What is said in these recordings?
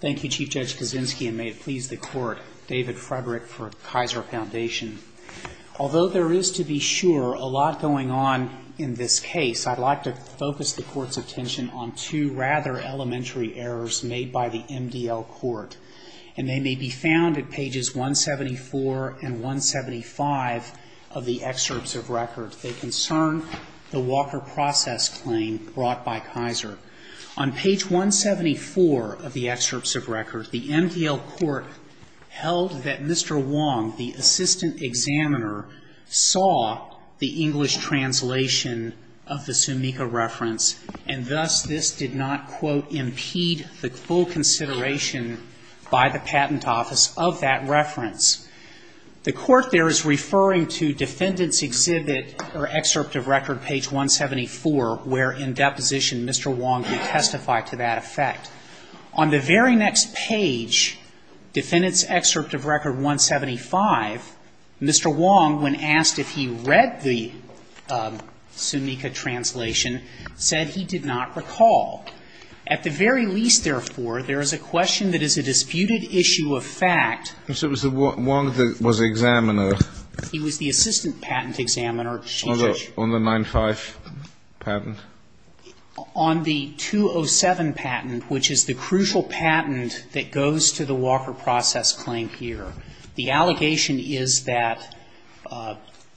Thank you, Chief Judge Kaczynski, and may it please the Court, David Frederick for Kaiser Foundation. Although there is, to be sure, a lot going on in this case, I'd like to focus the Court's attention on two rather elementary errors made by the MDL Court, and they may be found at pages 174 and 175 of the excerpts of record. They concern the Walker Process Claim brought by Kaiser. On page 174 of the excerpts of record, the MDL Court held that Mr. Wong, the assistant examiner, saw the English translation of the Sumika reference, and thus this did not, quote, impede the full consideration by the patent office of that reference. The Court there is referring to defendant's exhibit or excerpt of record, page 174, where in deposition Mr. Wong did testify to that effect. On the very next page, defendant's excerpt of record 175, Mr. Wong, when asked if he read the Sumika translation, said he did not recall. At the very least, therefore, there is a question that is a disputed issue of fact. So it was Wong that was the examiner? He was the assistant patent examiner. On the 95 patent? On the 207 patent, which is the crucial patent that goes to the Walker Process Claim here. The allegation is that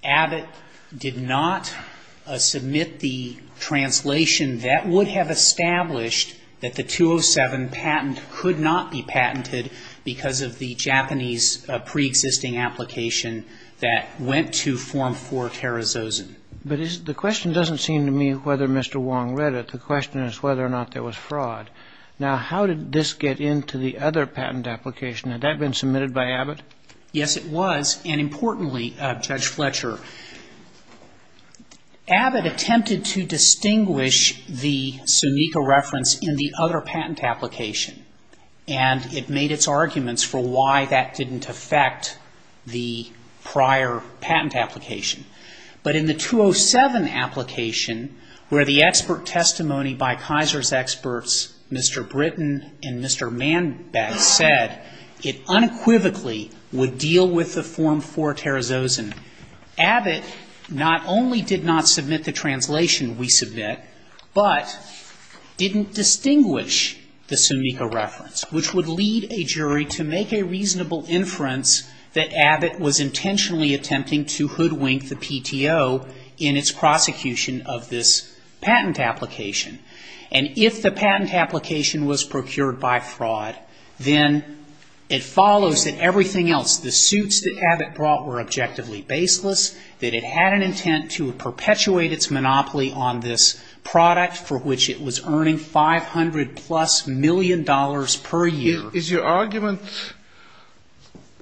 Abbott did not submit the translation that would have established that the 207 patent could not be patented because of the Japanese preexisting application that went to Form 4 Tarazosan. But the question doesn't seem to me whether Mr. Wong read it. The question is whether or not there was fraud. Now, how did this get into the other patent application? Had that been submitted by Abbott? Yes, it was. And importantly, Judge Fletcher, Abbott attempted to distinguish the Sumika reference in the other patent application. And it made its arguments for why that didn't affect the prior patent application. But in the 207 application, where the expert testimony by Kaiser's experts, Mr. Britton and Mr. Manbeck, said it unequivocally would deal with the Form 4 Tarazosan, Abbott not only did not submit the translation we submit, but didn't distinguish the Sumika reference, which would lead a jury to make a reasonable inference that Abbott was intentionally attempting to hoodwink the PTO in its prosecution of this patent application. And if the patent application was procured by fraud, then it follows that everything else, the suits that Abbott brought were objectively baseless, that it had an intent to perpetuate its monopoly on this product for which it was earning 500-plus million dollars per year. Is your argument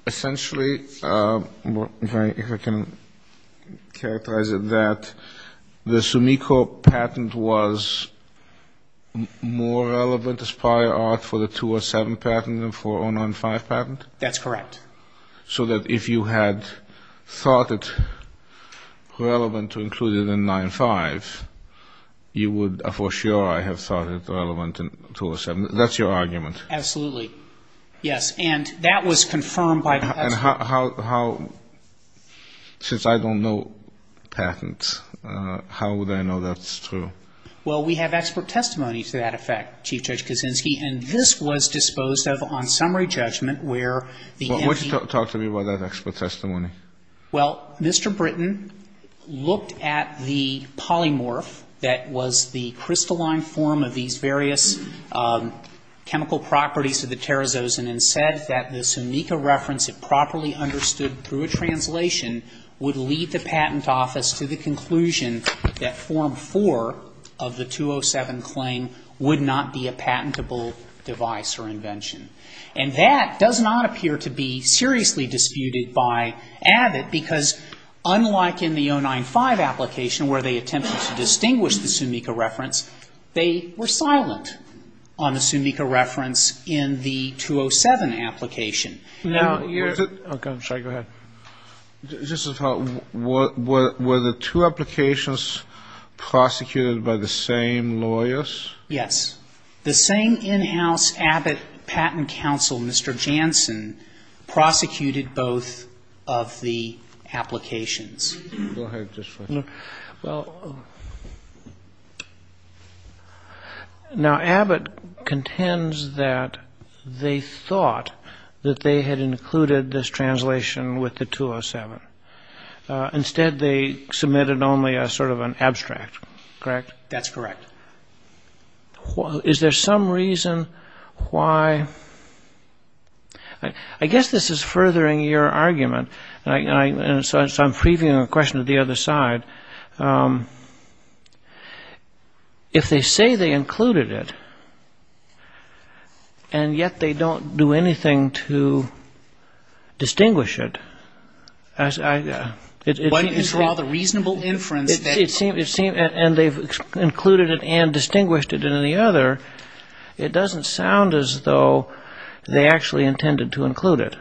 essentially, if I can characterize it that, the Sumika patent was more relevant as prior art for the 207 patent than for the 095 patent? That's correct. So that if you had thought it relevant to include it in 95, you would for sure have thought it relevant in 207. That's your argument? Absolutely. Yes. And that was confirmed by the patent. And how, since I don't know patents, how would I know that's true? Well, we have expert testimony to that effect, Chief Judge Kaczynski. And this was disposed of on summary judgment where the entity ---- Well, why don't you talk to me about that expert testimony? Well, Mr. Britton looked at the polymorph that was the crystalline form of these various chemical properties to the terazosin and said that the Sumika reference, if properly understood through a translation, would lead the Patent Office to the conclusion that Form 4 of the 207 claim would not be a patentable device or invention. And that does not appear to be seriously disputed by Abbott because unlike in the 095 application where they attempted to distinguish the Sumika reference, they were silent on the Sumika reference in the 207 application. Now, you're ---- Okay. I'm sorry. Go ahead. Were the two applications prosecuted by the same lawyers? Yes. The same in-house Abbott patent counsel, Mr. Jansen, prosecuted both of the applications. Go ahead. Well, now, Abbott contends that they thought that they had included this translation with the 207. Instead, they submitted only a sort of an abstract, correct? That's correct. Is there some reason why ---- I guess this is furthering your argument, and so I'm freeving a question to the other side. If they say they included it and yet they don't do anything to distinguish it, it seems ---- Why didn't you draw the reasonable inference that ---- And they've included it and distinguished it in the other. It doesn't sound as though they actually intended to include it.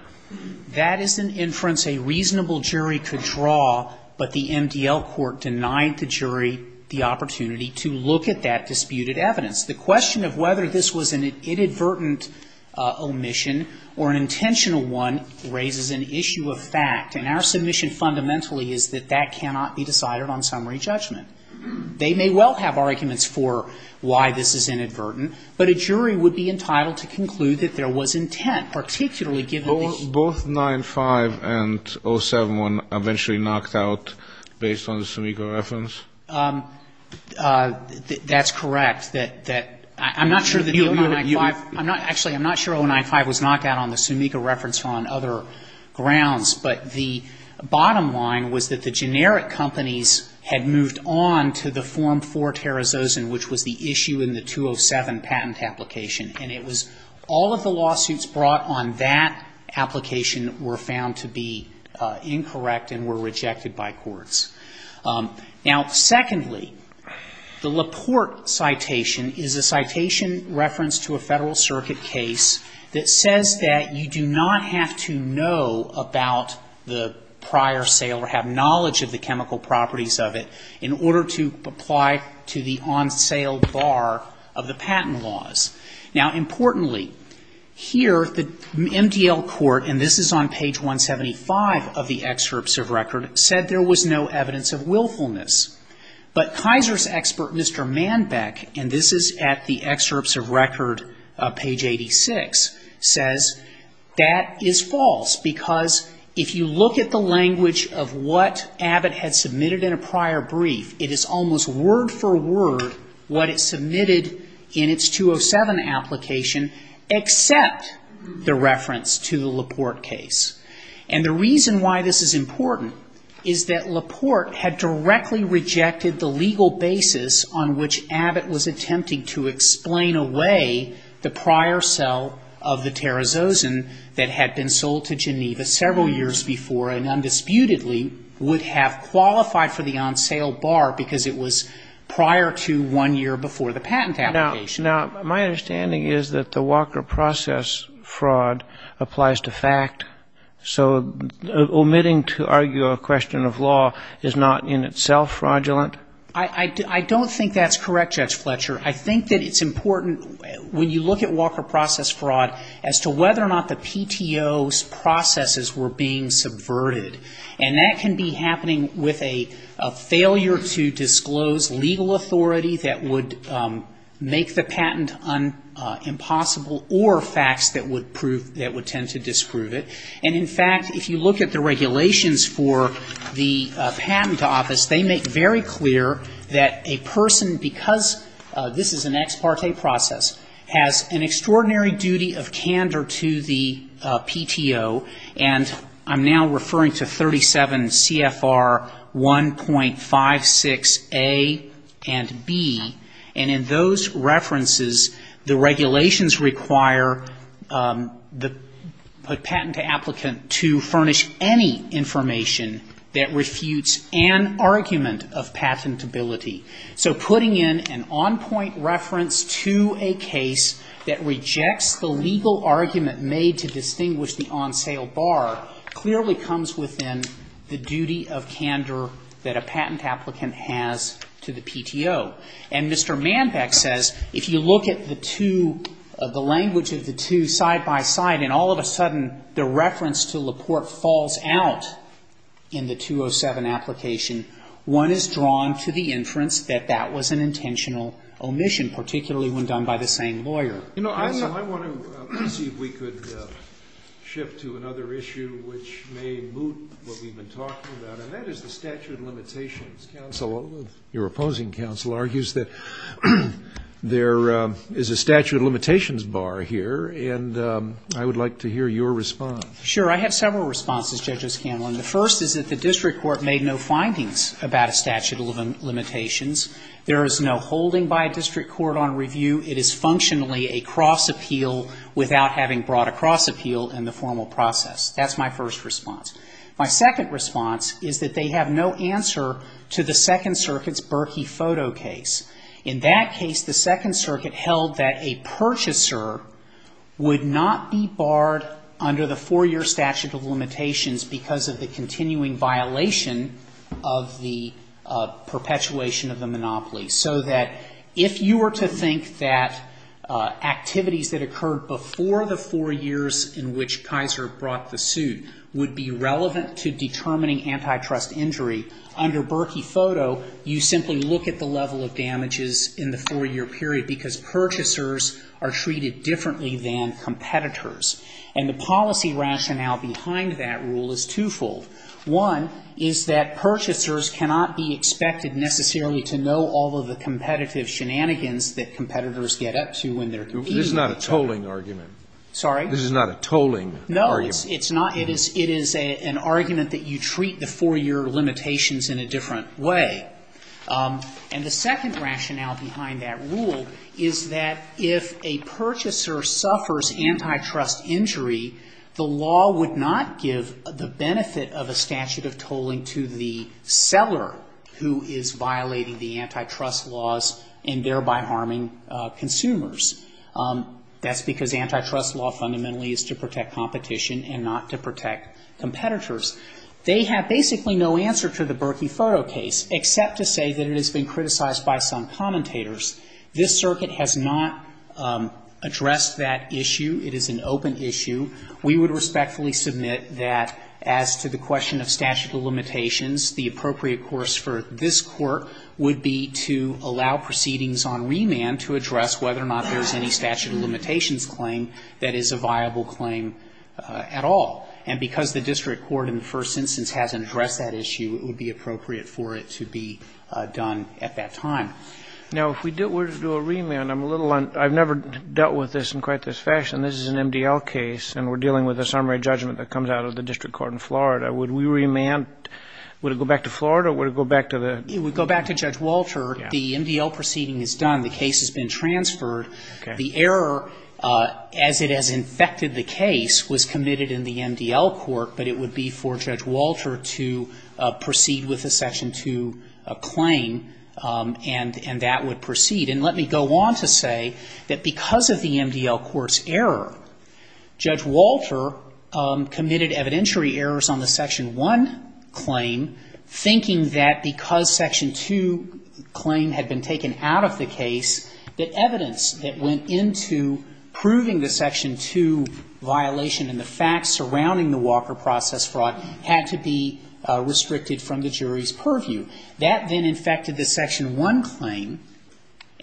That is an inference a reasonable jury could draw, but the MDL court denied the jury the opportunity to look at that disputed evidence. The question of whether this was an inadvertent omission or an intentional one raises an issue of fact, and our submission fundamentally is that that cannot be decided on summary judgment. They may well have arguments for why this is inadvertent, but a jury would be entitled to conclude that there was intent, particularly given the ---- Both 95 and 07 were eventually knocked out based on the Sumica reference? That's correct. I'm not sure that the 095 ---- Actually, I'm not sure 095 was knocked out on the Sumica reference or on other grounds, but the bottom line was that the generic companies had moved on to the form for Tarazosan, which was the issue in the 207 patent application, and it was all of the lawsuits brought on that application were found to be incorrect and were rejected by courts. Now, secondly, the Laporte citation is a citation reference to a Federal Circuit case that says that you do not have to know about the prior sale or have knowledge of the chemical properties of it in order to apply to the on-sale bar of the patent laws. Now, importantly, here the MDL court, and this is on page 175 of the excerpts of record, said there was no evidence of willfulness. But Kaiser's expert, Mr. Manbeck, and this is at the excerpts of record, page 86, says that is false, because if you look at the language of what Abbott had submitted in a prior brief, it is almost word for word what it submitted in its 207 application, except the reference to the Laporte case. And the reason why this is important is that Laporte had directly rejected the legal basis on which Abbott was attempting to explain away the prior sale of the Tarazosan that had been sold to Geneva several years before and undisputedly would have qualified for the on-sale bar because it was prior to one year before the patent application. Now, my understanding is that the Walker process fraud applies to fact. So omitting to argue a question of law is not in itself fraudulent? I don't think that's correct, Judge Fletcher. I think that it's important when you look at Walker process fraud as to whether or not the PTO's processes were being subverted. And that can be happening with a failure to disclose legal authority that would make the patent impossible or facts that would tend to disprove it. And, in fact, if you look at the regulations for the Patent Office, they make very clear that a person, because this is an ex parte process, has an extraordinary duty of candor to the PTO. And I'm now referring to 37 CFR 1.56A and B. And in those references, the PTO has a duty of candor to the PTO. And in those references, the regulations require the patent applicant to furnish any information that refutes an argument of patentability. So putting in an on-point reference to a case that rejects the legal argument made to distinguish the on-sale bar clearly comes within the duty of candor that a patent applicant has to the PTO. And Mr. Manbeck says if you look at the two, the language of the two side by side and all of a sudden the reference to Laporte falls out in the 207 application, one is drawn to the inference that that was an intentional omission, particularly when done by the same lawyer. Scalia. Counsel, I want to see if we could shift to another issue which may moot what we've been talking about, and that is the statute of limitations. Counsel, your opposing counsel argues that there is a statute of limitations bar here, and I would like to hear your response. Manbeck. Sure. I have several responses, Judge O'Scanlan. The first is that the district court made no findings about a statute of limitations. There is no holding by a district court on review. It is functionally a cross appeal without having brought a cross appeal in the formal process. That's my first response. My second response is that they have no answer to the Second Circuit's Berkey photo case. In that case, the Second Circuit held that a purchaser would not be barred under the four-year statute of limitations because of the continuing violation of the perpetuation of the monopoly, so that if you were to think that activities that occurred before the four years in which Kaiser brought the suit would be relevant to determining antitrust injury, under Berkey photo, you simply look at the level of damages in the four-year period because purchasers are treated differently than competitors. And the policy rationale behind that rule is twofold. One is that purchasers cannot be expected necessarily to know all of the competitive shenanigans that competitors get up to when they're competing. This is not a tolling argument. Sorry? This is not a tolling argument. No, it's not. It is an argument that you treat the four-year limitations in a different way. And the second rationale behind that rule is that if a purchaser suffers antitrust injury, the law would not give the benefit of a statute of tolling to the seller who is violating the antitrust laws and thereby harming consumers. That's because antitrust law fundamentally is to protect competition and not to protect competitors. They have basically no answer to the Berkey photo case, except to say that it has been criticized by some commentators. This circuit has not addressed that issue. It is an open issue. We would respectfully submit that as to the question of statute of limitations, the appropriate course for this Court would be to allow proceedings on remand to address whether or not there's any statute of limitations claim that is a viable claim at all. And because the district court in the first instance hasn't addressed that issue, it would be appropriate for it to be done at that time. Now, if we were to do a remand, I'm a little un-I've never dealt with this in quite this fashion. This is an MDL case, and we're dealing with a summary judgment that comes out of the district court in Florida. Would we remand? Would it go back to Florida, or would it go back to the- The case has been transferred. The error, as it has infected the case, was committed in the MDL court, but it would be for Judge Walter to proceed with the Section 2 claim, and that would proceed. And let me go on to say that because of the MDL court's error, Judge Walter committed evidentiary errors on the Section 1 claim thinking that because Section 2 claim had been taken out of the case, that evidence that went into proving the Section 2 violation and the facts surrounding the Walker process fraud had to be restricted from the jury's purview. That then infected the Section 1 claim,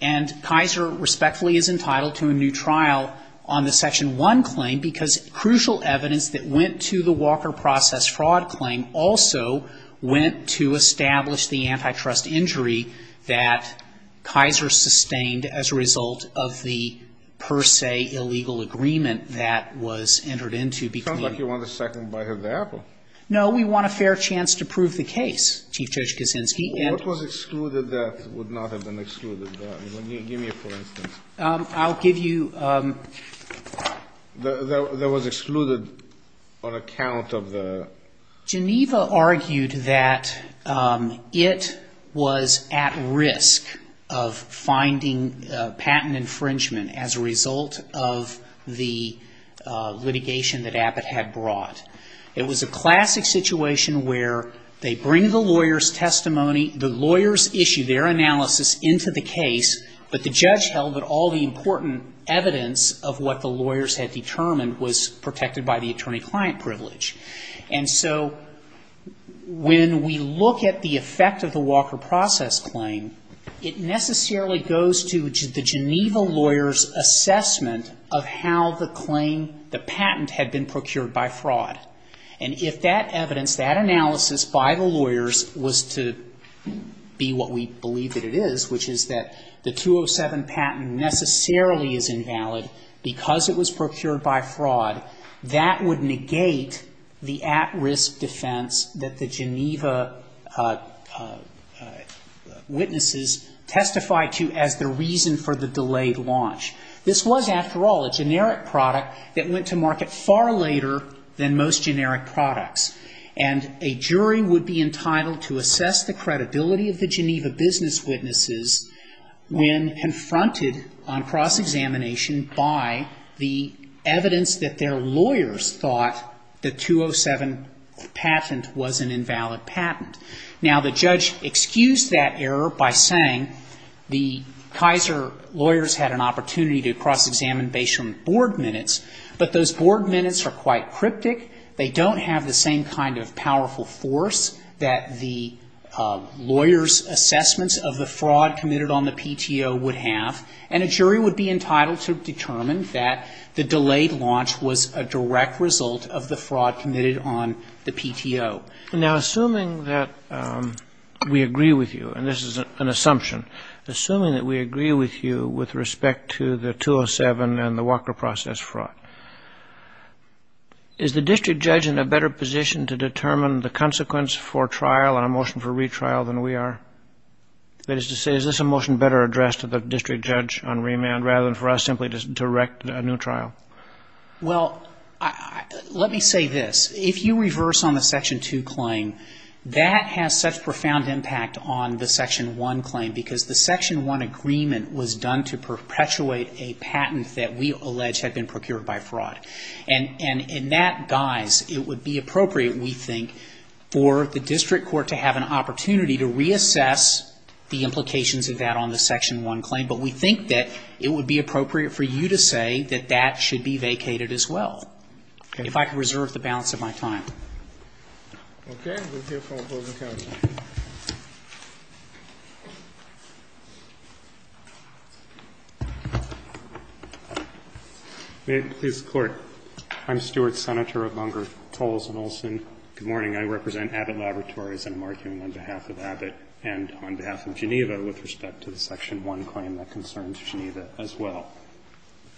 and Kaiser respectfully is entitled to a new trial on the Section 1 claim because crucial evidence that went to the Walker process fraud claim also went to establish the antitrust injury that Kaiser sustained as a result of the per se illegal agreement that was entered into between- It sounds like you want a second bite of the apple. No, we want a fair chance to prove the case, Chief Judge Kaczynski, and- What was excluded that would not have been excluded? Give me a for instance. I'll give you- That was excluded on account of the- Geneva argued that it was at risk of finding patent infringement as a result of the litigation that Abbott had brought. It was a classic situation where they bring the lawyer's issue, their analysis into the case, but the judge held that all the important evidence of what the lawyers had determined was protected by the attorney-client privilege. And so when we look at the effect of the Walker process claim, it necessarily goes to the Geneva lawyer's assessment of how the claim, the patent had been procured by fraud. And if that evidence, that analysis by the lawyers was to be what we believe that it is, which is that the 207 patent necessarily is invalid because it was procured by fraud, that would negate the at-risk defense that the Geneva witnesses testified to as the reason for the delayed launch. This was, after all, a error than most generic products. And a jury would be entitled to assess the credibility of the Geneva business witnesses when confronted on cross-examination by the evidence that their lawyers thought the 207 patent was an invalid patent. Now, the judge excused that error by saying the Kaiser lawyers had an opportunity to cross-examine based on board minutes, but those board minutes are quite cryptic. They don't have the same kind of powerful force that the lawyers' assessments of the fraud committed on the PTO would have. And a jury would be entitled to determine that the delayed launch was a direct result of the fraud committed on the PTO. And now, assuming that we agree with you, and this is an assumption, assuming that we agree with you with respect to the 207 and the Walker process fraud, is the district judge in a better position to determine the consequence for trial on a motion for retrial than we are? That is to say, is this a motion better addressed to the district judge on remand rather than for us simply to direct a new trial? Well, let me say this. If you reverse on the Section 2 claim, that has such profound impact on the Section 1 claim, because the Section 1 agreement was done to perpetuate a patent that we allege had been procured by fraud. And in that guise, it would be appropriate, we think, for the district court to have an opportunity to reassess the implications of that on the Section 1 claim. But we think that it would be appropriate for you to say that that should be vacated as well, if I could reserve the balance of my time. Okay. We'll hear from the closing counsel. May it please the Court. I'm Stuart Senator of Lunger, Tolles & Olson. Good morning. I represent Abbott Laboratories, and I'm arguing on behalf of Abbott and on behalf of Geneva with respect to the Section 1 claim that concerns Geneva as well.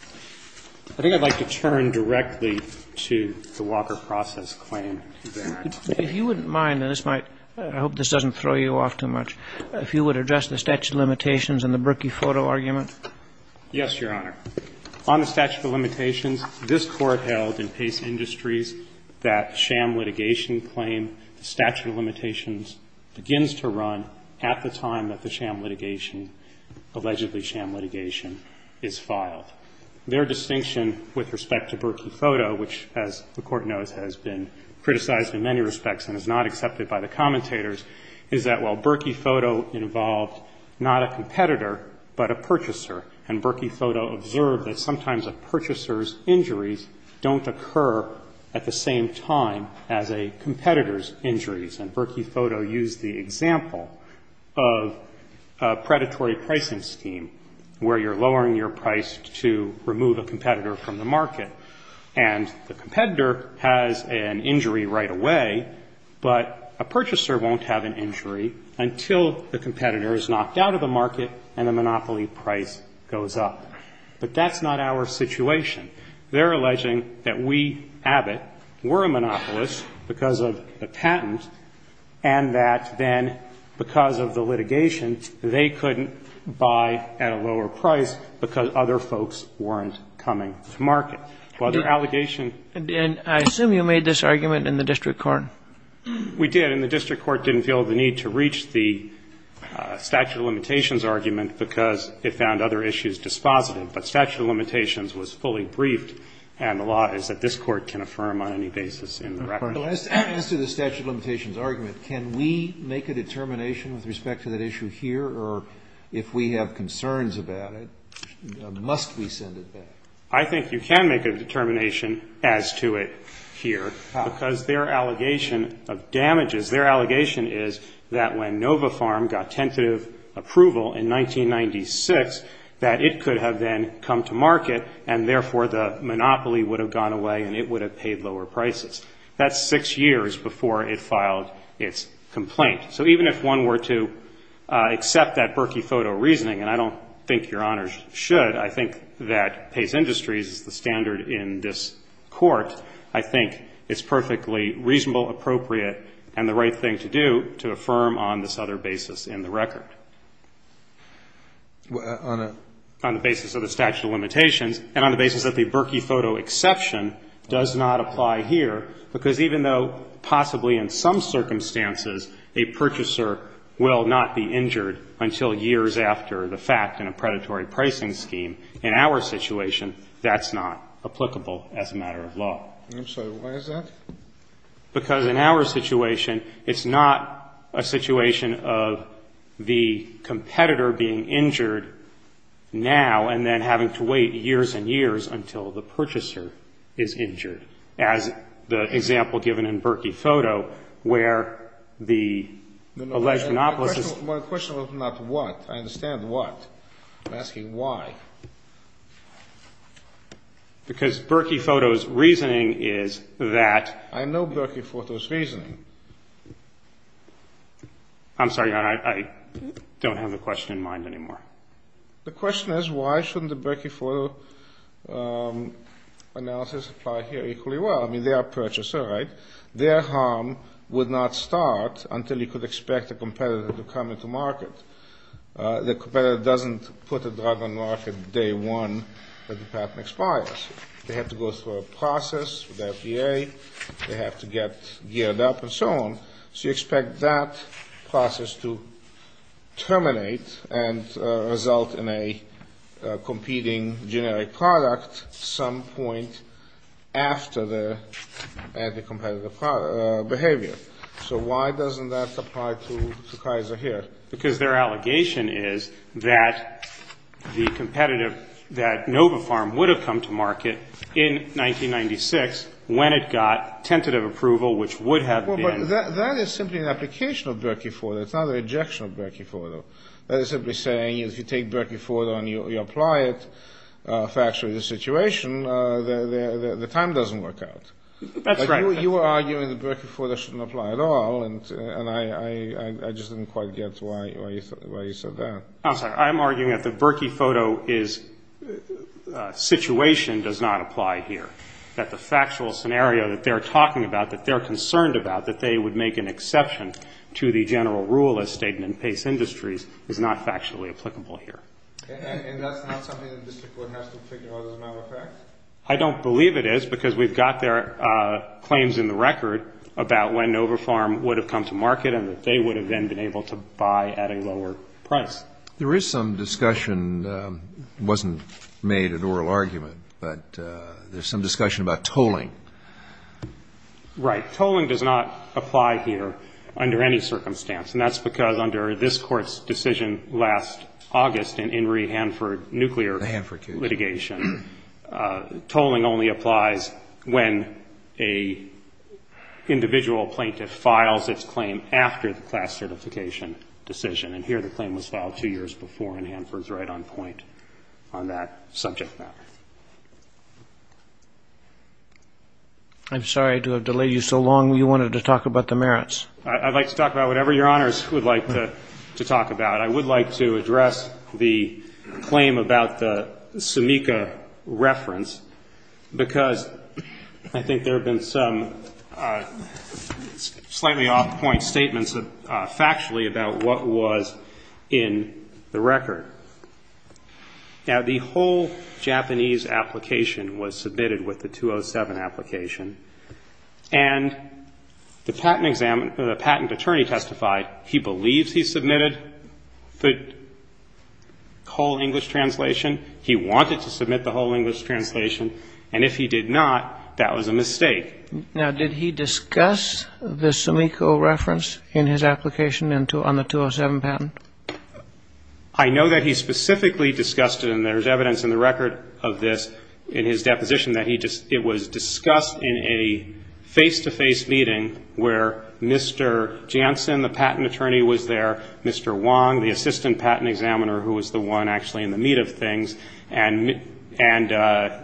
I think I'd like to turn directly to the Walker process claim. If you wouldn't mind, and this might – I hope this doesn't throw you off too much – if you would address the statute of limitations and the Berkey photo argument. Yes, Your Honor. On the statute of limitations, this Court held in Pace Industries that sham litigation claim, the statute of limitations begins to run at the time that the sham litigation – allegedly sham litigation – is filed. Their distinction with respect to Berkey photo, which, as the Court knows, has been criticized in many respects and is not accepted by the commentators, is that while Berkey photo involved not a competitor but a purchaser, and Berkey photo observed that sometimes a purchaser's injuries don't occur at the same time as a competitor's example of a predatory pricing scheme where you're lowering your price to remove a competitor from the market. And the competitor has an injury right away, but a purchaser won't have an injury until the competitor is knocked out of the market and the monopoly price goes up. But that's not our situation. They're alleging that we, Abbott, were a monopolist because of the patent, and that then, because of the litigation, they couldn't buy at a lower price because other folks weren't coming to market. While their allegation – And I assume you made this argument in the district court. We did. And the district court didn't feel the need to reach the statute of limitations argument because it found other issues dispositive. But statute of limitations was fully briefed, and the law is that this Court can affirm on any basis in the record. Answer the statute of limitations argument. Can we make a determination with respect to that issue here? Or if we have concerns about it, must we send it back? I think you can make a determination as to it here because their allegation of damages, their allegation is that when Nova Farm got tentative approval in 1996 that it could have then come to market, and therefore the monopoly would have gone away and it would have paid lower prices. That's six years before it filed its complaint. So even if one were to accept that Berkey photo reasoning, and I don't think Your Honors should. I think that Pace Industries is the standard in this Court. I think it's perfectly reasonable, appropriate, and the right thing to do to affirm on this other basis in the record. On the basis of the statute of limitations and on the basis that the Berkey photo exception does not apply here, because even though possibly in some circumstances a purchaser will not be injured until years after the fact in a predatory pricing scheme, in our situation that's not applicable as a matter of law. I'm sorry. Why is that? Because in our situation, it's not a situation of the competitor being injured now and then having to wait years and years until the purchaser is injured, as the example given in Berkey photo where the alleged monopolist is My question was not what. I understand what. I'm asking why. Because Berkey photo's reasoning is that I know Berkey photo's reasoning. I'm sorry, Your Honor. I don't have the question in mind anymore. The question is why shouldn't the Berkey photo analysis apply here equally well? I mean, they are a purchaser, right? Their harm would not start until you could expect a competitor to come into market. The competitor doesn't put a drug on market day one that the patent expires. They have to go through a process with FDA. They have to get geared up and so on. So you expect that process to terminate and result in a competing generic product some point after the anti-competitive behavior. So why doesn't that apply to Kaiser here? Because their allegation is that the competitive, that Novapharm would have come to market in 1996 when it got tentative approval, which would have been Well, but that is simply an application of Berkey photo. It's not an ejection of Berkey photo. That is simply saying if you take Berkey photo and you apply it factually to the situation, the time doesn't work out. That's right. You are arguing that Berkey photo shouldn't apply at all, and I just didn't quite get why you said that. I'm sorry. I'm arguing that the Berkey photo situation does not apply here, that the factual scenario that they're talking about, that they're concerned about, that they would make an exception to the general rule as stated in PACE Industries is not factually applicable here. And that's not something the district court has to figure out as a matter of fact? I don't believe it is because we've got their claims in the record about when Novapharm would have come to market and that they would have then been able to buy at a lower price. There is some discussion. It wasn't made an oral argument, but there's some discussion about tolling. Right. Tolling does not apply here under any circumstance, and that's because under this Court's decision last August in Henry Hanford nuclear litigation, tolling only applies when an individual plaintiff files its claim after the class certification decision, and here the claim was filed two years before, and Hanford's right on point on that subject matter. I'm sorry to have delayed you so long. You wanted to talk about the merits. I'd like to talk about whatever Your Honors would like to talk about. I would like to address the claim about the Sumika reference because I think there have been some slightly off-point statements factually about what was in the record. Now, the whole Japanese application was submitted with the 207 application, and the patent attorney testified he believes he submitted the whole English translation, he wanted to submit the whole English translation, and if he did not, that was a mistake. Now, did he discuss the Sumika reference in his application on the 207 patent? I know that he specifically discussed it, and there's evidence in the record of this in his deposition that it was discussed in a face-to-face meeting where Mr. Jansen, the patent attorney, was there, Mr. Wong, the assistant patent examiner, who was the one actually in the meat of things, and Ms.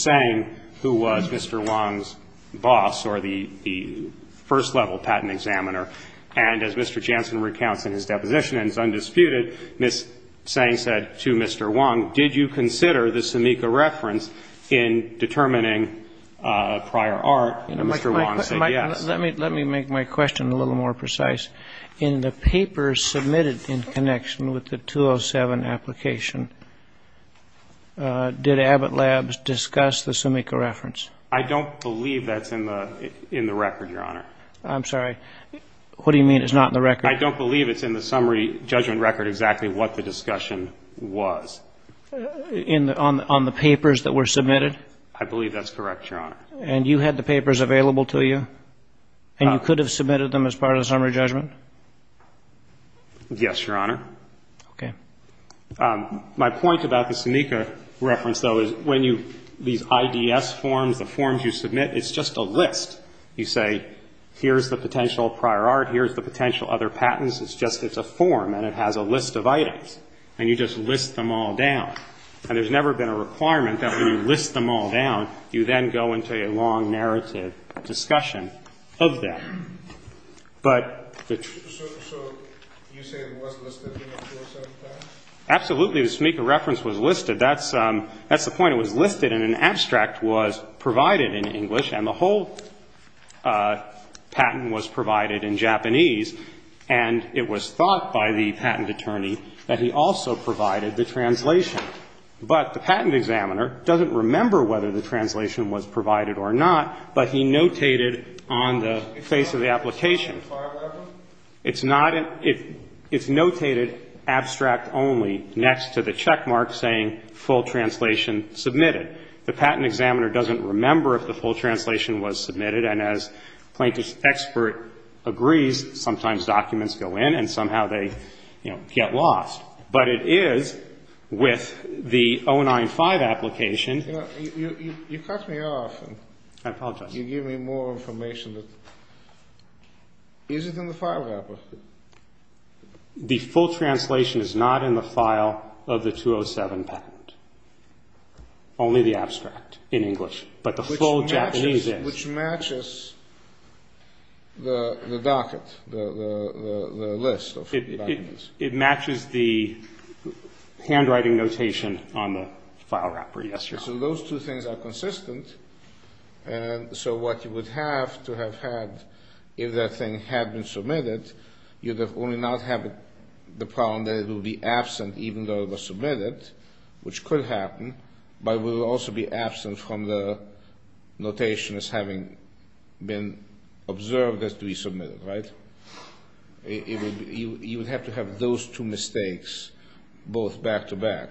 Tseng, who was Mr. Wong's boss or the first-level patent examiner, and as Mr. Jansen recounts in his deposition, and it's undisputed, Ms. Tseng said to Mr. Wong, did you consider the Sumika reference in determining prior art, and Mr. Wong said yes. Let me make my question a little more precise. In the papers submitted in connection with the 207 application, did Abbott Labs discuss the Sumika reference? I don't believe that's in the record, Your Honor. I'm sorry. What do you mean it's not in the record? I don't believe it's in the summary judgment record exactly what the discussion was. On the papers that were submitted? I believe that's correct, Your Honor. And you had the papers available to you, and you could have submitted them as part of the summary judgment? Yes, Your Honor. Okay. My point about the Sumika reference, though, is when you, these IDS forms, the forms you submit, it's just a list. You say, here's the potential prior art, here's the potential other patents. It's just it's a form, and it has a list of items, and you just list them all down. And there's never been a requirement that when you list them all down, you then go into a long narrative discussion of them. So you say it was listed in the 207 patent? Absolutely. The Sumika reference was listed. That's the point. The reason it was listed in an abstract was provided in English, and the whole patent was provided in Japanese. And it was thought by the patent attorney that he also provided the translation. But the patent examiner doesn't remember whether the translation was provided or not, but he notated on the face of the application. It's not in, it's notated abstract only next to the checkmark saying full translation submitted. The patent examiner doesn't remember if the full translation was submitted, and as plaintiff's expert agrees, sometimes documents go in and somehow they, you know, get lost. But it is with the 095 application. You cut me off. I apologize. You give me more information. Is it in the file wrapper? The full translation is not in the file of the 207 patent, only the abstract in English, but the full Japanese is. Which matches the docket, the list of documents. It matches the handwriting notation on the file wrapper, yes, Your Honor. So those two things are consistent, and so what you would have to have had if that thing had been submitted, you would only not have the problem that it would be absent even though it was submitted, which could happen, but it would also be absent from the notation as having been observed as to be submitted, right? You would have to have those two mistakes both back to back.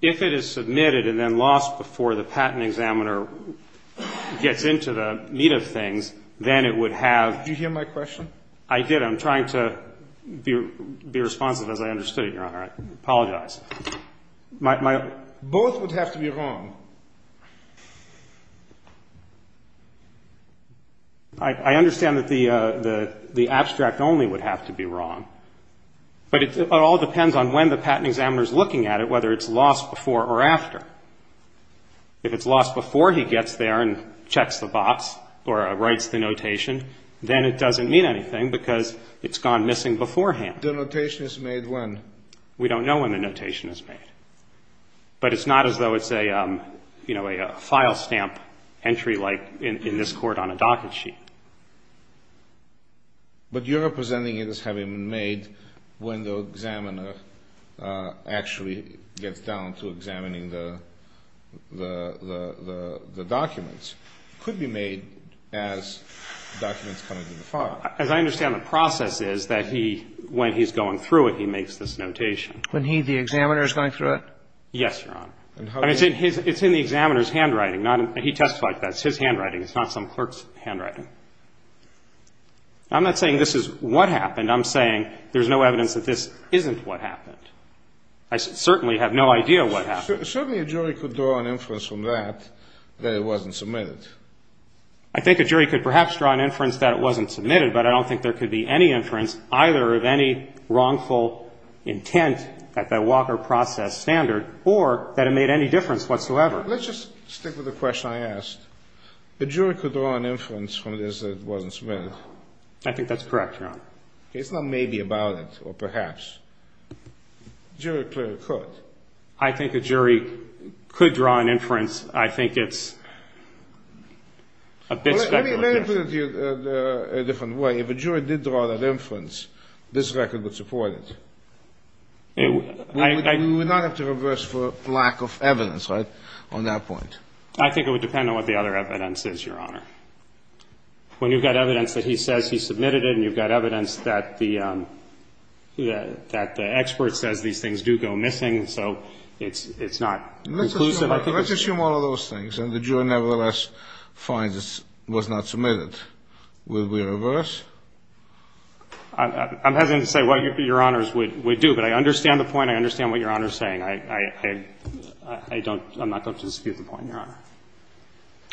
If it is submitted and then lost before the patent examiner gets into the meat of things, then it would have... Did you hear my question? I did. I'm trying to be responsive as I understood it, Your Honor. I apologize. Both would have to be wrong. I understand that the abstract only would have to be wrong, but it all depends on when the patent examiner is looking at it, whether it's lost before or after. If it's lost before he gets there and checks the box or writes the notation, then it doesn't mean anything because it's gone missing beforehand. The notation is made when? We don't know when the notation is made, but it's not as though it's a file stamp entry like in this court on a docket sheet. But you're presenting it as having been made when the examiner actually gets down to examining the documents. It could be made as documents come into the file. As I understand, the process is that he, when he's going through it, he makes this notation. When he, the examiner, is going through it? Yes, Your Honor. It's in the examiner's handwriting. He testified to that. It's his handwriting. It's not some clerk's handwriting. I'm not saying this is what happened. I'm saying there's no evidence that this isn't what happened. I certainly have no idea what happened. Certainly a jury could draw an inference from that that it wasn't submitted. I think a jury could perhaps draw an inference that it wasn't submitted, but I don't think there could be any inference either of any wrongful intent at the Walker process standard or that it made any difference whatsoever. Let's just stick with the question I asked. A jury could draw an inference from this that it wasn't submitted. I think that's correct, Your Honor. It's not maybe about it or perhaps. A jury clearly could. I think a jury could draw an inference. I think it's a bit speculative. Let me put it to you a different way. If a jury did draw that inference, this record would support it. We would not have to reverse for lack of evidence, right, on that point? I think it would depend on what the other evidence is, Your Honor. When you've got evidence that he says he submitted it and you've got evidence that the expert says these things do go missing, so it's not conclusive. Let's assume all of those things, and the jury nevertheless finds it was not submitted. Would we reverse? I'm hesitant to say what Your Honors would do, but I understand the point. I understand what Your Honor is saying. I don't dispute the point, Your Honor.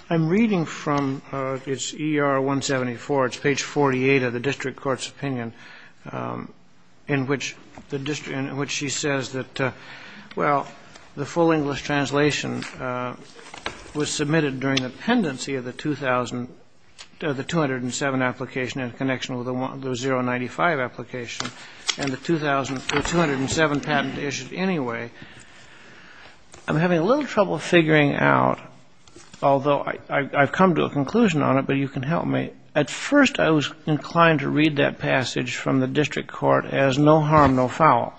I'm reading from ER 174. It's page 48 of the district court's opinion in which she says that, well, the full English translation was submitted during the pendency of the 2007 application in connection with the 095 application and the 2007 patent issued anyway. I'm having a little trouble figuring out, although I've come to a conclusion on it, but you can help me. At first, I was inclined to read that passage from the district court as no harm, no foul.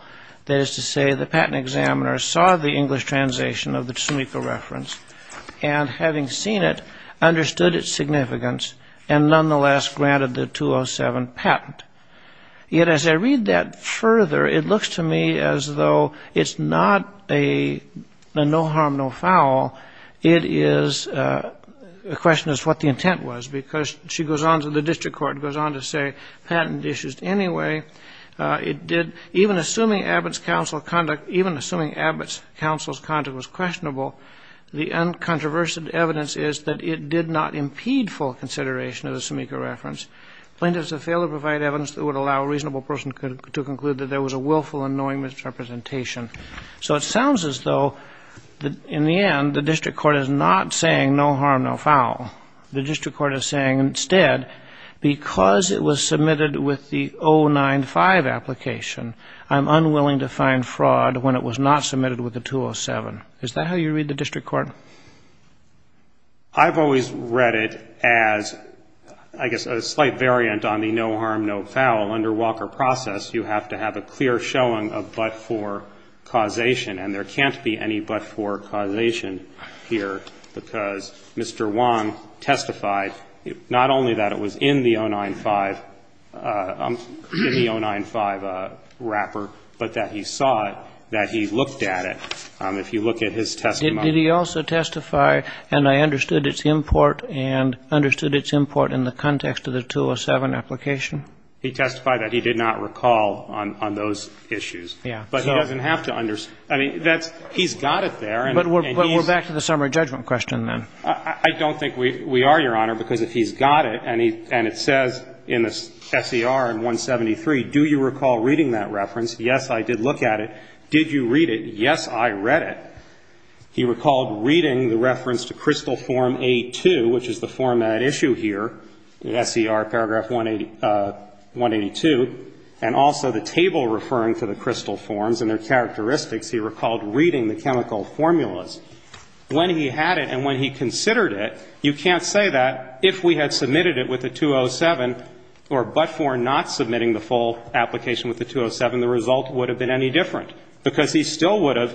That is to say, the patent examiner saw the English translation of the Tsumiko reference and, having seen it, understood its significance and nonetheless granted the 2007 patent. Yet, as I read that further, it looks to me as though it's not a no harm, no foul. It is a question as to what the intent was, because she goes on to the district court, goes on to say, patent issued anyway. It did, even assuming Abbott's counsel's conduct was questionable, the uncontroversial evidence is that it did not impede full consideration of the Tsumiko reference. Plaintiffs have failed to provide evidence that would allow a reasonable person to conclude that there was a willful and knowing misrepresentation. So it sounds as though, in the end, the district court is not saying no harm, no foul. The district court is saying, instead, because it was submitted with the 095 application, I'm unwilling to find fraud when it was not submitted with the 207. Is that how you read the district court? I've always read it as, I guess, a slight variant on the no harm, no foul. Under Walker process, you have to have a clear showing of but-for causation. And there can't be any but-for causation here, because Mr. Wong testified not only that it was in the 095, in the 095 wrapper, but that he saw it, that he looked at it. If you look at his testimony. Did he also testify, and I understood it's import, and understood it's import in the context of the 207 application? He testified that he did not recall on those issues. Yeah. But he doesn't have to. I mean, he's got it there. But we're back to the summary judgment question, then. I don't think we are, Your Honor, because if he's got it, and it says in the SER in 173, do you recall reading that reference? Yes, I did look at it. Did you read it? Yes, I read it. He recalled reading the reference to crystal form A-2, which is the format issue here, in SER paragraph 182, and also the table referring to the crystal forms and their characteristics. He recalled reading the chemical formulas. When he had it and when he considered it, you can't say that if we had submitted it with the 207, or but-for not submitting the full application with the 207, the result would have been any different, because he still would have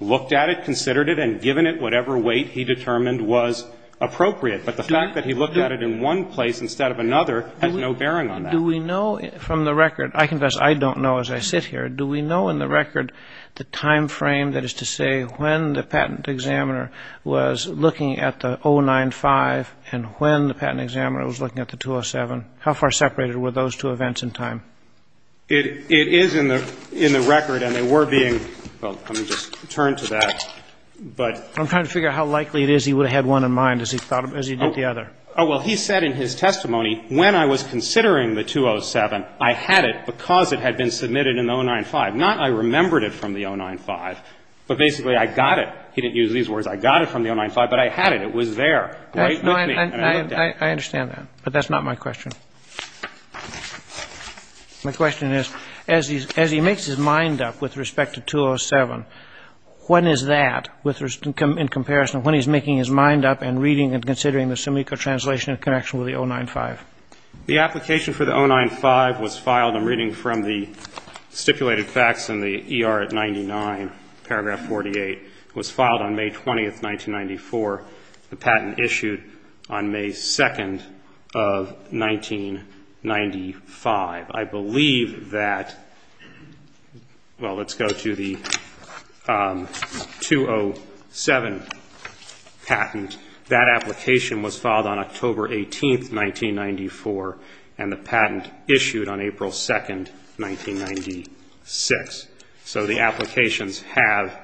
looked at it, considered it, and given it whatever weight he determined was appropriate. But the fact that he looked at it in one place instead of another has no bearing on that. Do we know from the record? I confess I don't know as I sit here. Do we know in the record the time frame, that is to say, when the patent examiner was looking at the 095 and when the patent examiner was looking at the 207? How far separated were those two events in time? It is in the record, and they were being, well, let me just turn to that. But I'm trying to figure out how likely it is he would have had one in mind as he thought as he did the other. Oh, well, he said in his testimony, when I was considering the 207, I had it because it had been submitted in the 095. Not I remembered it from the 095, but basically I got it. He didn't use these words. I got it from the 095, but I had it. It was there. Right? And I looked at it. I understand that. But that's not my question. My question is, as he makes his mind up with respect to 207, when is that in comparison of when he's making his mind up and reading and considering the Simico translation in connection with the 095? The application for the 095 was filed, I'm reading from the stipulated facts in the ER at 99, paragraph 48. It was filed on May 20, 1994. The patent issued on May 2 of 1995. I believe that, well, let's go to the 207 patent. That application was filed on October 18, 1994, and the patent issued on April 2, 1996. So the applications have...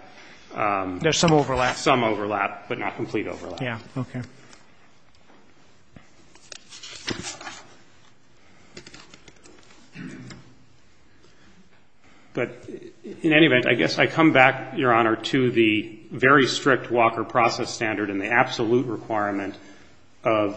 There's some overlap. Some overlap, but not complete overlap. Yeah. Okay. But, in any event, I guess I come back, Your Honor, to the very strict Walker process standard and the absolute requirement of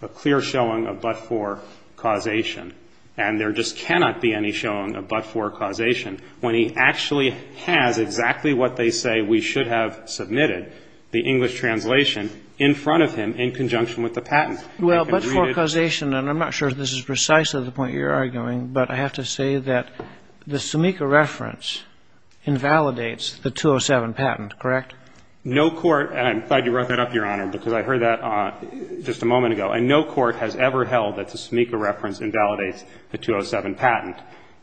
a clear showing of but-for causation. And there just cannot be any showing of but-for causation when he actually has exactly what they say we should have submitted, the English translation, in front of him in conjunction with the patent. Well, but-for causation, and I'm not sure if this is precisely the point you're arguing, but I have to say that the Simico reference invalidates the 207 patent, correct? No court, and I'm glad you brought that up, Your Honor, because I heard that just a moment ago, and no court has ever held that the Simico reference invalidates the 207 patent,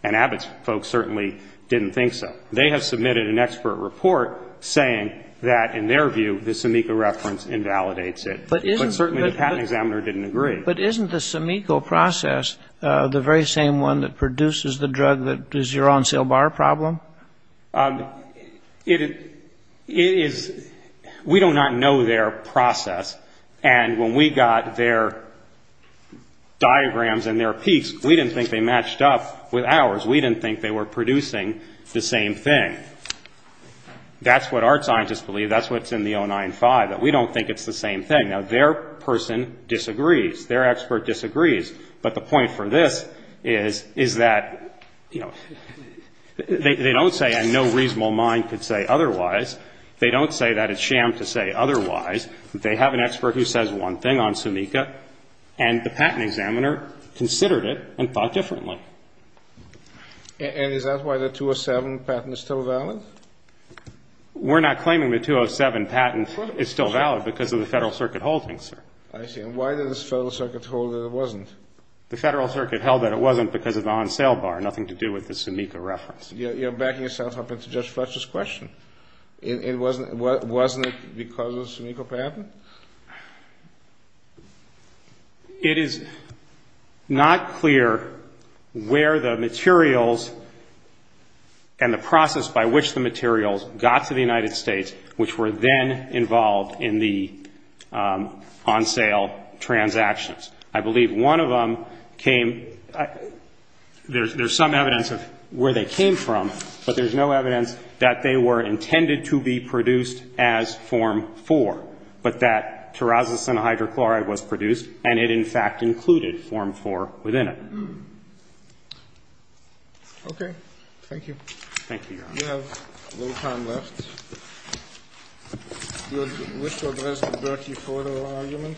and Abbott's folks certainly didn't think so. They have submitted an expert report saying that, in their view, the Simico reference invalidates it. But certainly the patent examiner didn't agree. But isn't the Simico process the very same one that produces the drug that is your on-sale bar problem? We do not know their process, and when we got their diagrams and their peaks, we didn't think they matched up with ours. We didn't think they were producing the same thing. That's what our scientists believe. That's what's in the 095, that we don't think it's the same thing. Now, their person disagrees. Their expert disagrees. But the point for this is, is that, you know, they don't say, and no reasonable mind could say otherwise, they don't say that it's sham to say otherwise. They have an expert who says one thing on Simico, and the patent examiner considered it and thought differently. And is that why the 207 patent is still valid? We're not claiming the 207 patent is still valid because of the Federal Circuit holding, sir. I see. And why did this Federal Circuit hold that it wasn't? The Federal Circuit held that it wasn't because of the on-sale bar, nothing to do with the Simico reference. You're backing yourself up into Judge Fletcher's question. Wasn't it because of the Simico patent? It is not clear where the materials and the process by which the materials got to the United States, which were then involved in the on-sale transactions. I believe one of them came, there's some evidence of where they came from, but there's no evidence that they were intended to be produced as Form 4. But that terrazosin hydrochloride was produced, and it in fact included Form 4 within it. Okay. Thank you. Thank you, Your Honor. We have a little time left. Do you wish to address the Berkey-Ford argument?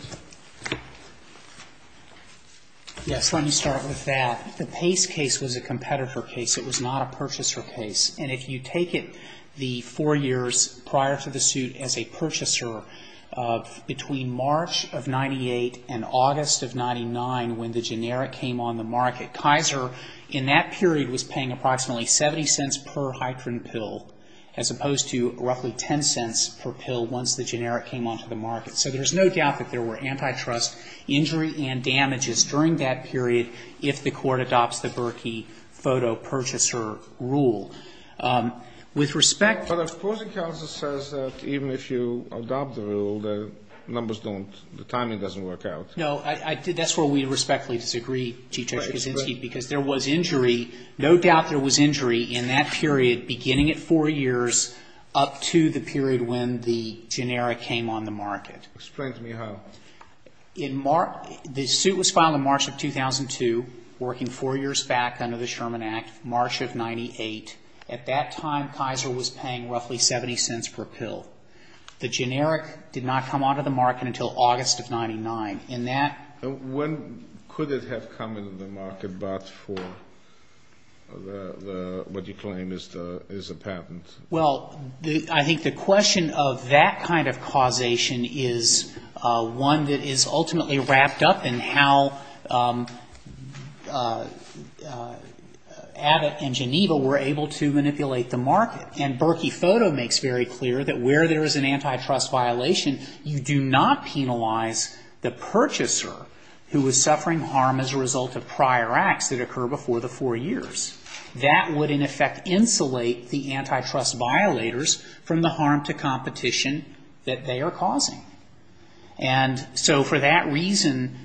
Yes, let me start with that. The Pace case was a competitor case. It was not a purchaser case. And if you take it, the four years prior to the suit as a purchaser, between March of 98 and August of 99, when the generic came on the market, Kaiser in that period was paying approximately 70 cents per hydrin pill, as opposed to roughly 10 cents per pill once the generic came onto the market. So there's no doubt that there were antitrust injury and damages during that period if the court adopts the Berkey photo purchaser rule. With respect to the ---- But the opposing counsel says that even if you adopt the rule, the numbers don't the timing doesn't work out. No. That's where we respectfully disagree, Chief Justice Kuczynski, because there was injury. No doubt there was injury in that period beginning at four years up to the period when the generic came on the market. Explain to me how. The suit was filed in March of 2002, working four years back under the Sherman Act, March of 98. At that time, Kaiser was paying roughly 70 cents per pill. The generic did not come onto the market until August of 99. And that ---- When could it have come into the market but for what you claim is a patent? Well, I think the question of that kind of causation is one that is ultimately wrapped up in how Abbott and Geneva were able to manipulate the market. And Berkey photo makes very clear that where there is an antitrust violation, you do not penalize the purchaser who was suffering harm as a result of prior acts that occurred before the four years. That would, in effect, insulate the antitrust violators from the harm to competition that they are causing. And so for that reason,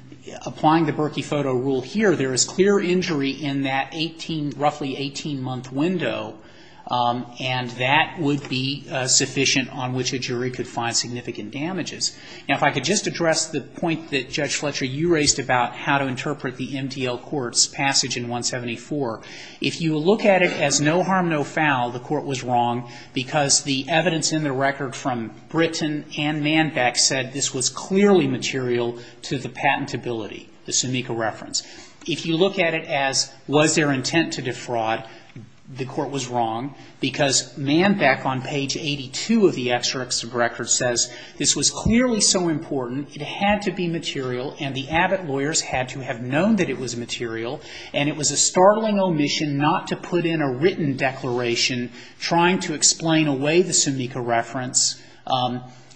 applying the Berkey photo rule here, there is clear injury in that 18, roughly 18-month window. And that would be sufficient on which a jury could find significant damages. Now, if I could just address the point that, Judge Fletcher, you raised about how to interpret the MDL court's passage in 174. If you look at it as no harm, no foul, the court was wrong because the evidence in the record from Britton and Manbeck said this was clearly material to the patentability, the Sumica reference. If you look at it as was there intent to defraud, the court was wrong because Manbeck on page 82 of the extracts of records says this was clearly so important, it had to be material, and the Abbott lawyers had to have known that it was material. And it was a startling omission not to put in a written declaration trying to explain away the Sumica reference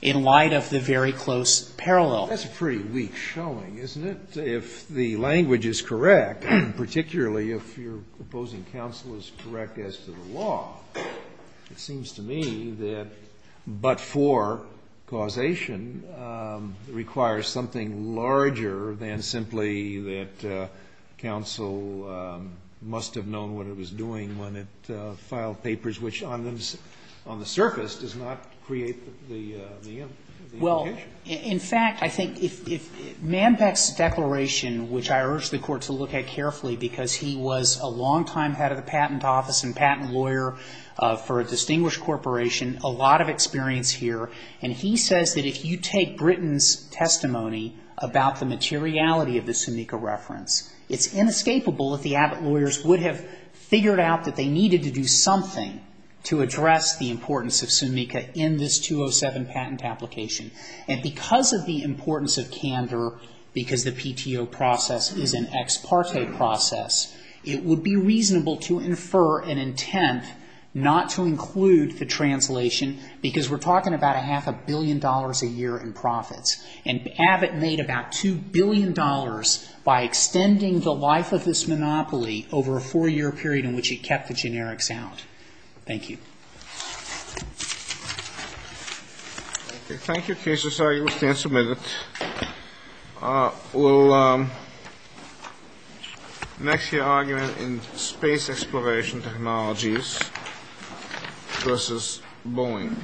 in light of the very close parallel. Scalia. That's a pretty weak showing, isn't it, if the language is correct, particularly if your opposing counsel is correct as to the law. It seems to me that but for causation requires something larger than simply that counsel must have known what it was doing when it filed papers, which on the surface does not create the indication. Well, in fact, I think if Manbeck's declaration, which I urge the Court to look at carefully because he was a longtime head of the patent office and patent lawyer for a distinguished corporation, a lot of experience here, and he says that if you take Britain's testimony about the materiality of the Sumica reference, it's inescapable that the Abbott lawyers would have figured out that they needed to do something to address the importance of Sumica in this 207 patent application. And because of the importance of candor, because the PTO process is an ex parte process, it would be reasonable to infer an intent not to include the translation because we're talking about a half a billion dollars a year in profits. And Abbott made about $2 billion by extending the life of this monopoly over a four-year period in which he kept the generics out. Thank you. Thank you, cases. I understand it's a minute. We'll next hear argument in space exploration technologies versus Boeing.